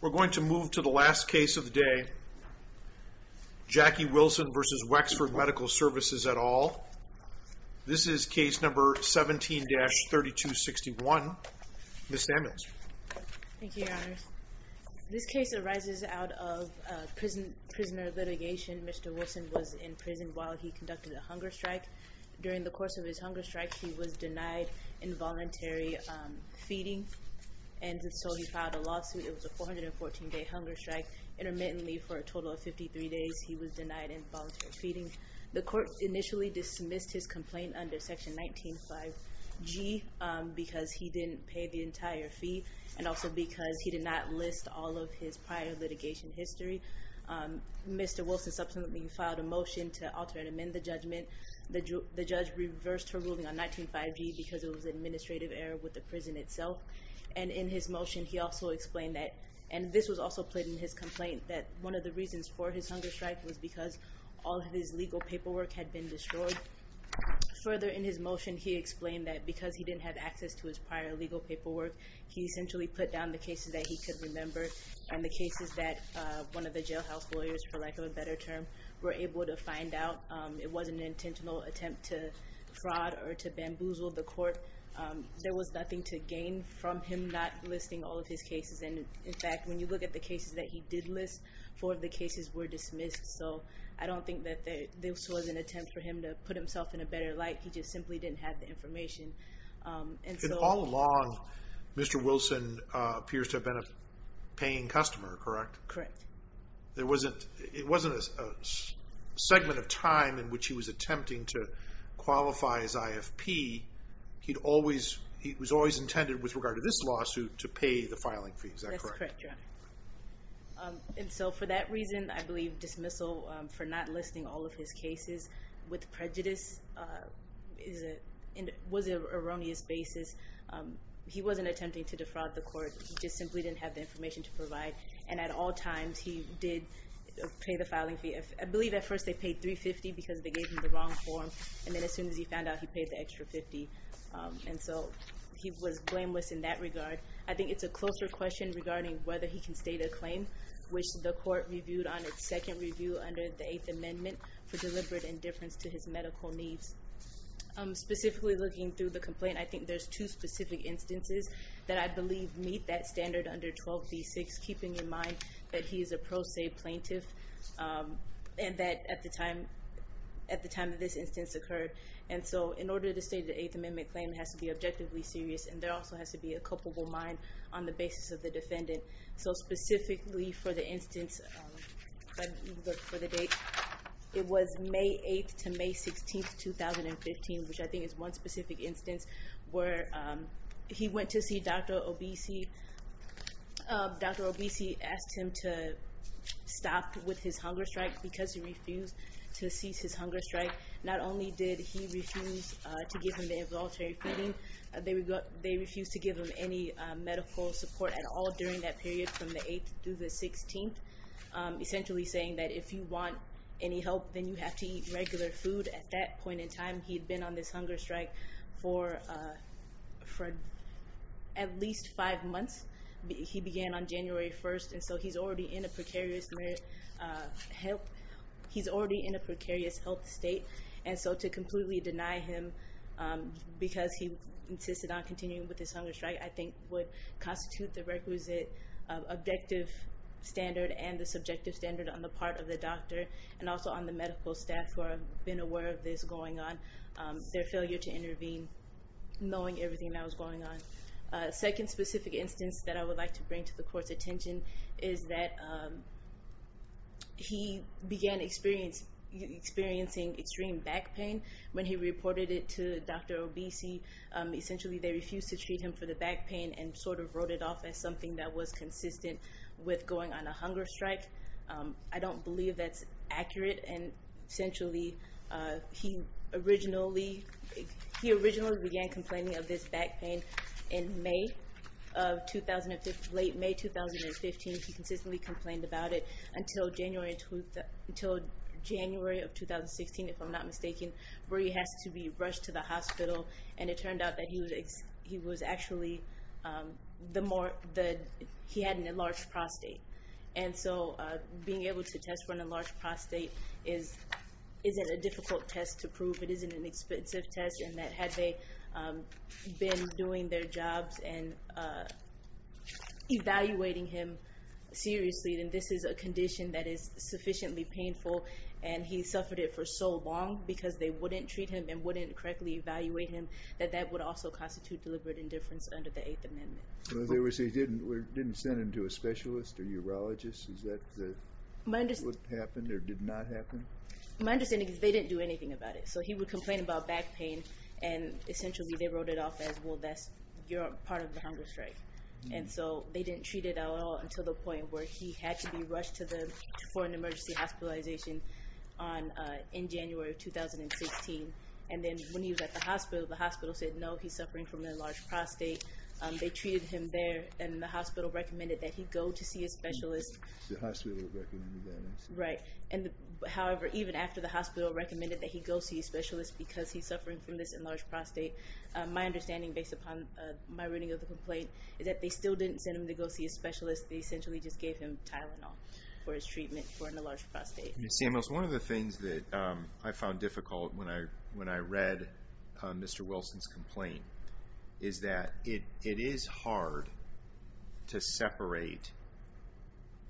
We're going to move to the last case of the day, Jackie Wilson v. Wexford Medical Services et al. This is case number 17-3261. Ms. Sammons. Thank you, your honors. This case arises out of a prisoner litigation. Mr. Wilson was in prison while he conducted a hunger strike. During the course of his hunger strike, he was denied involuntary feeding. And so he filed a lawsuit. It was a 414-day hunger strike. Intermittently for a total of 53 days, he was denied involuntary feeding. The court initially dismissed his complaint under section 19-5G because he didn't pay the entire fee. And also because he did not list all of his prior litigation history. Mr. Wilson subsequently filed a motion to alter and amend the judgment. The judge reversed her ruling on 19-5G because it was an administrative error with the prison itself. And in his motion, he also explained that, and this was also played in his complaint, that one of the reasons for his hunger strike was because all of his legal paperwork had been destroyed. Further in his motion, he explained that because he didn't have access to his prior legal paperwork, he essentially put down the cases that he could remember, and the cases that one of the jailhouse lawyers, for lack of a better term, were able to find out. It wasn't an intentional attempt to fraud or to bamboozle the court. There was nothing to gain from him not listing all of his cases. And, in fact, when you look at the cases that he did list, four of the cases were dismissed. So I don't think that this was an attempt for him to put himself in a better light. He just simply didn't have the information. And all along, Mr. Wilson appears to have been a paying customer, correct? Correct. It wasn't a segment of time in which he was attempting to qualify his IFP. He was always intended, with regard to this lawsuit, to pay the filing fees, is that correct? That's correct, Your Honor. And so for that reason, I believe dismissal for not listing all of his cases with prejudice was an erroneous basis. He wasn't attempting to defraud the court. He just simply didn't have the information to provide. And at all times, he did pay the filing fee. I believe at first they paid $350 because they gave him the wrong form. And then as soon as he found out, he paid the extra $50. And so he was blameless in that regard. I think it's a closer question regarding whether he can state a claim, which the court reviewed on its second review under the Eighth Amendment, for deliberate indifference to his medical needs. Specifically looking through the complaint, I think there's two specific instances that I believe meet that standard under 12d6, keeping in mind that he is a pro se plaintiff and that at the time of this instance occurred. And so in order to state the Eighth Amendment claim, it has to be objectively serious, and there also has to be a culpable mind on the basis of the defendant. So specifically for the instance, if I can look for the date, it was May 8th to May 16th, 2015, which I think is one specific instance where he went to see Dr. Obese. Dr. Obese asked him to stop with his hunger strike because he refused to cease his hunger strike. Not only did he refuse to give him the involuntary feeding, they refused to give him any medical support at all during that period from the 8th through the 16th, essentially saying that if you want any help, then you have to eat regular food. At that point in time, he had been on this hunger strike for at least five months. He began on January 1st, and so he's already in a precarious health state. And so to completely deny him because he insisted on continuing with his hunger strike, I think would constitute the requisite objective standard and the subjective standard on the part of the doctor and also on the medical staff who have been aware of this going on, their failure to intervene, knowing everything that was going on. A second specific instance that I would like to bring to the Court's attention is that he began experiencing extreme back pain when he reported it to Dr. Obese. Essentially, they refused to treat him for the back pain and sort of wrote it off as something that was consistent with going on a hunger strike. I don't believe that's accurate. And essentially, he originally began complaining of this back pain in late May 2015. He consistently complained about it until January of 2016, if I'm not mistaken, and it turned out that he had an enlarged prostate. And so being able to test for an enlarged prostate isn't a difficult test to prove. It isn't an expensive test in that had they been doing their jobs and evaluating him seriously, then this is a condition that is sufficiently painful, and he suffered it for so long because they wouldn't treat him and wouldn't correctly evaluate him, that that would also constitute deliberate indifference under the Eighth Amendment. So they didn't send him to a specialist or urologist? Is that what happened or did not happen? My understanding is they didn't do anything about it. So he would complain about back pain, and essentially they wrote it off as, well, that's part of the hunger strike. And so they didn't treat it at all until the point where he had to be rushed to the American Emergency Hospitalization in January of 2016. And then when he was at the hospital, the hospital said, no, he's suffering from an enlarged prostate. They treated him there, and the hospital recommended that he go to see a specialist. The hospital recommended that. Right. However, even after the hospital recommended that he go see a specialist because he's suffering from this enlarged prostate, my understanding based upon my reading of the complaint is that they still didn't send him to go see a specialist. They essentially just gave him Tylenol for his treatment for an enlarged prostate. Ms. Samuels, one of the things that I found difficult when I read Mr. Wilson's complaint is that it is hard to separate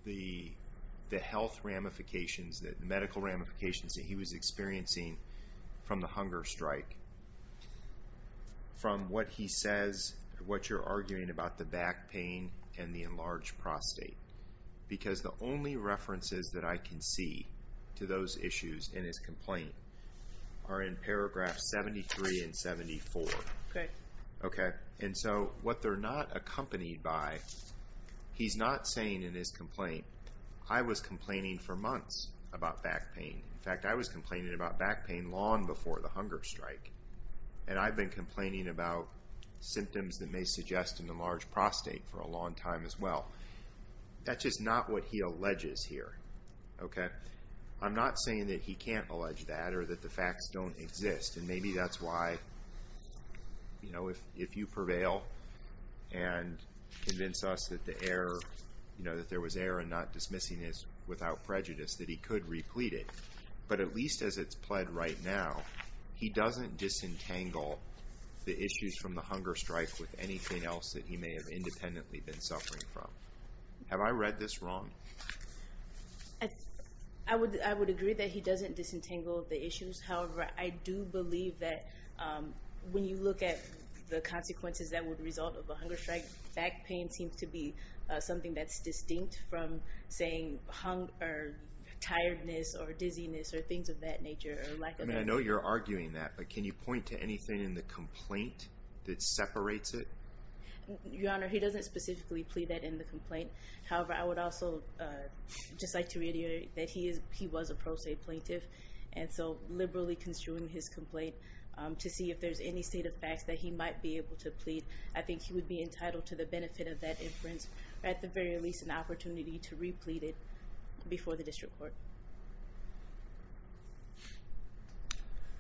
the health ramifications, the medical ramifications that he was experiencing from the hunger strike from what he says, what you're arguing about the back pain and the enlarged prostate. Because the only references that I can see to those issues in his complaint are in paragraphs 73 and 74. Okay. Okay. And so what they're not accompanied by, he's not saying in his complaint, I was complaining for months about back pain. In fact, I was complaining about back pain long before the hunger strike. And I've been complaining about symptoms that may suggest an enlarged prostate for a long time as well. That's just not what he alleges here. Okay. I'm not saying that he can't allege that or that the facts don't exist. And maybe that's why, you know, if you prevail and convince us that the error, you know, that there was error in not dismissing this without prejudice, that he could replete it. But at least as it's pled right now, he doesn't disentangle the issues from the hunger strike with anything else that he may have independently been suffering from. Have I read this wrong? I would agree that he doesn't disentangle the issues. However, I do believe that when you look at the consequences that would result of a hunger strike, back pain seems to be something that's distinct from saying tiredness or dizziness or things of that nature. I mean, I know you're arguing that, but can you point to anything in the complaint that separates it? Your Honor, he doesn't specifically plead that in the complaint. However, I would also just like to reiterate that he was a prostate plaintiff. And so liberally construing his complaint to see if there's any state of facts that he might be able to plead, I think he would be entitled to the benefit of that inference, or at the very least an opportunity to replete it before the district court.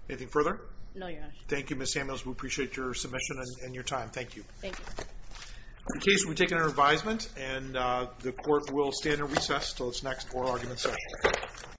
Anything further? No, Your Honor. Thank you, Ms. Samuels. We appreciate your submission and your time. Thank you. Thank you. The case will be taken under advisement, and the court will stand at recess until its next oral argument session.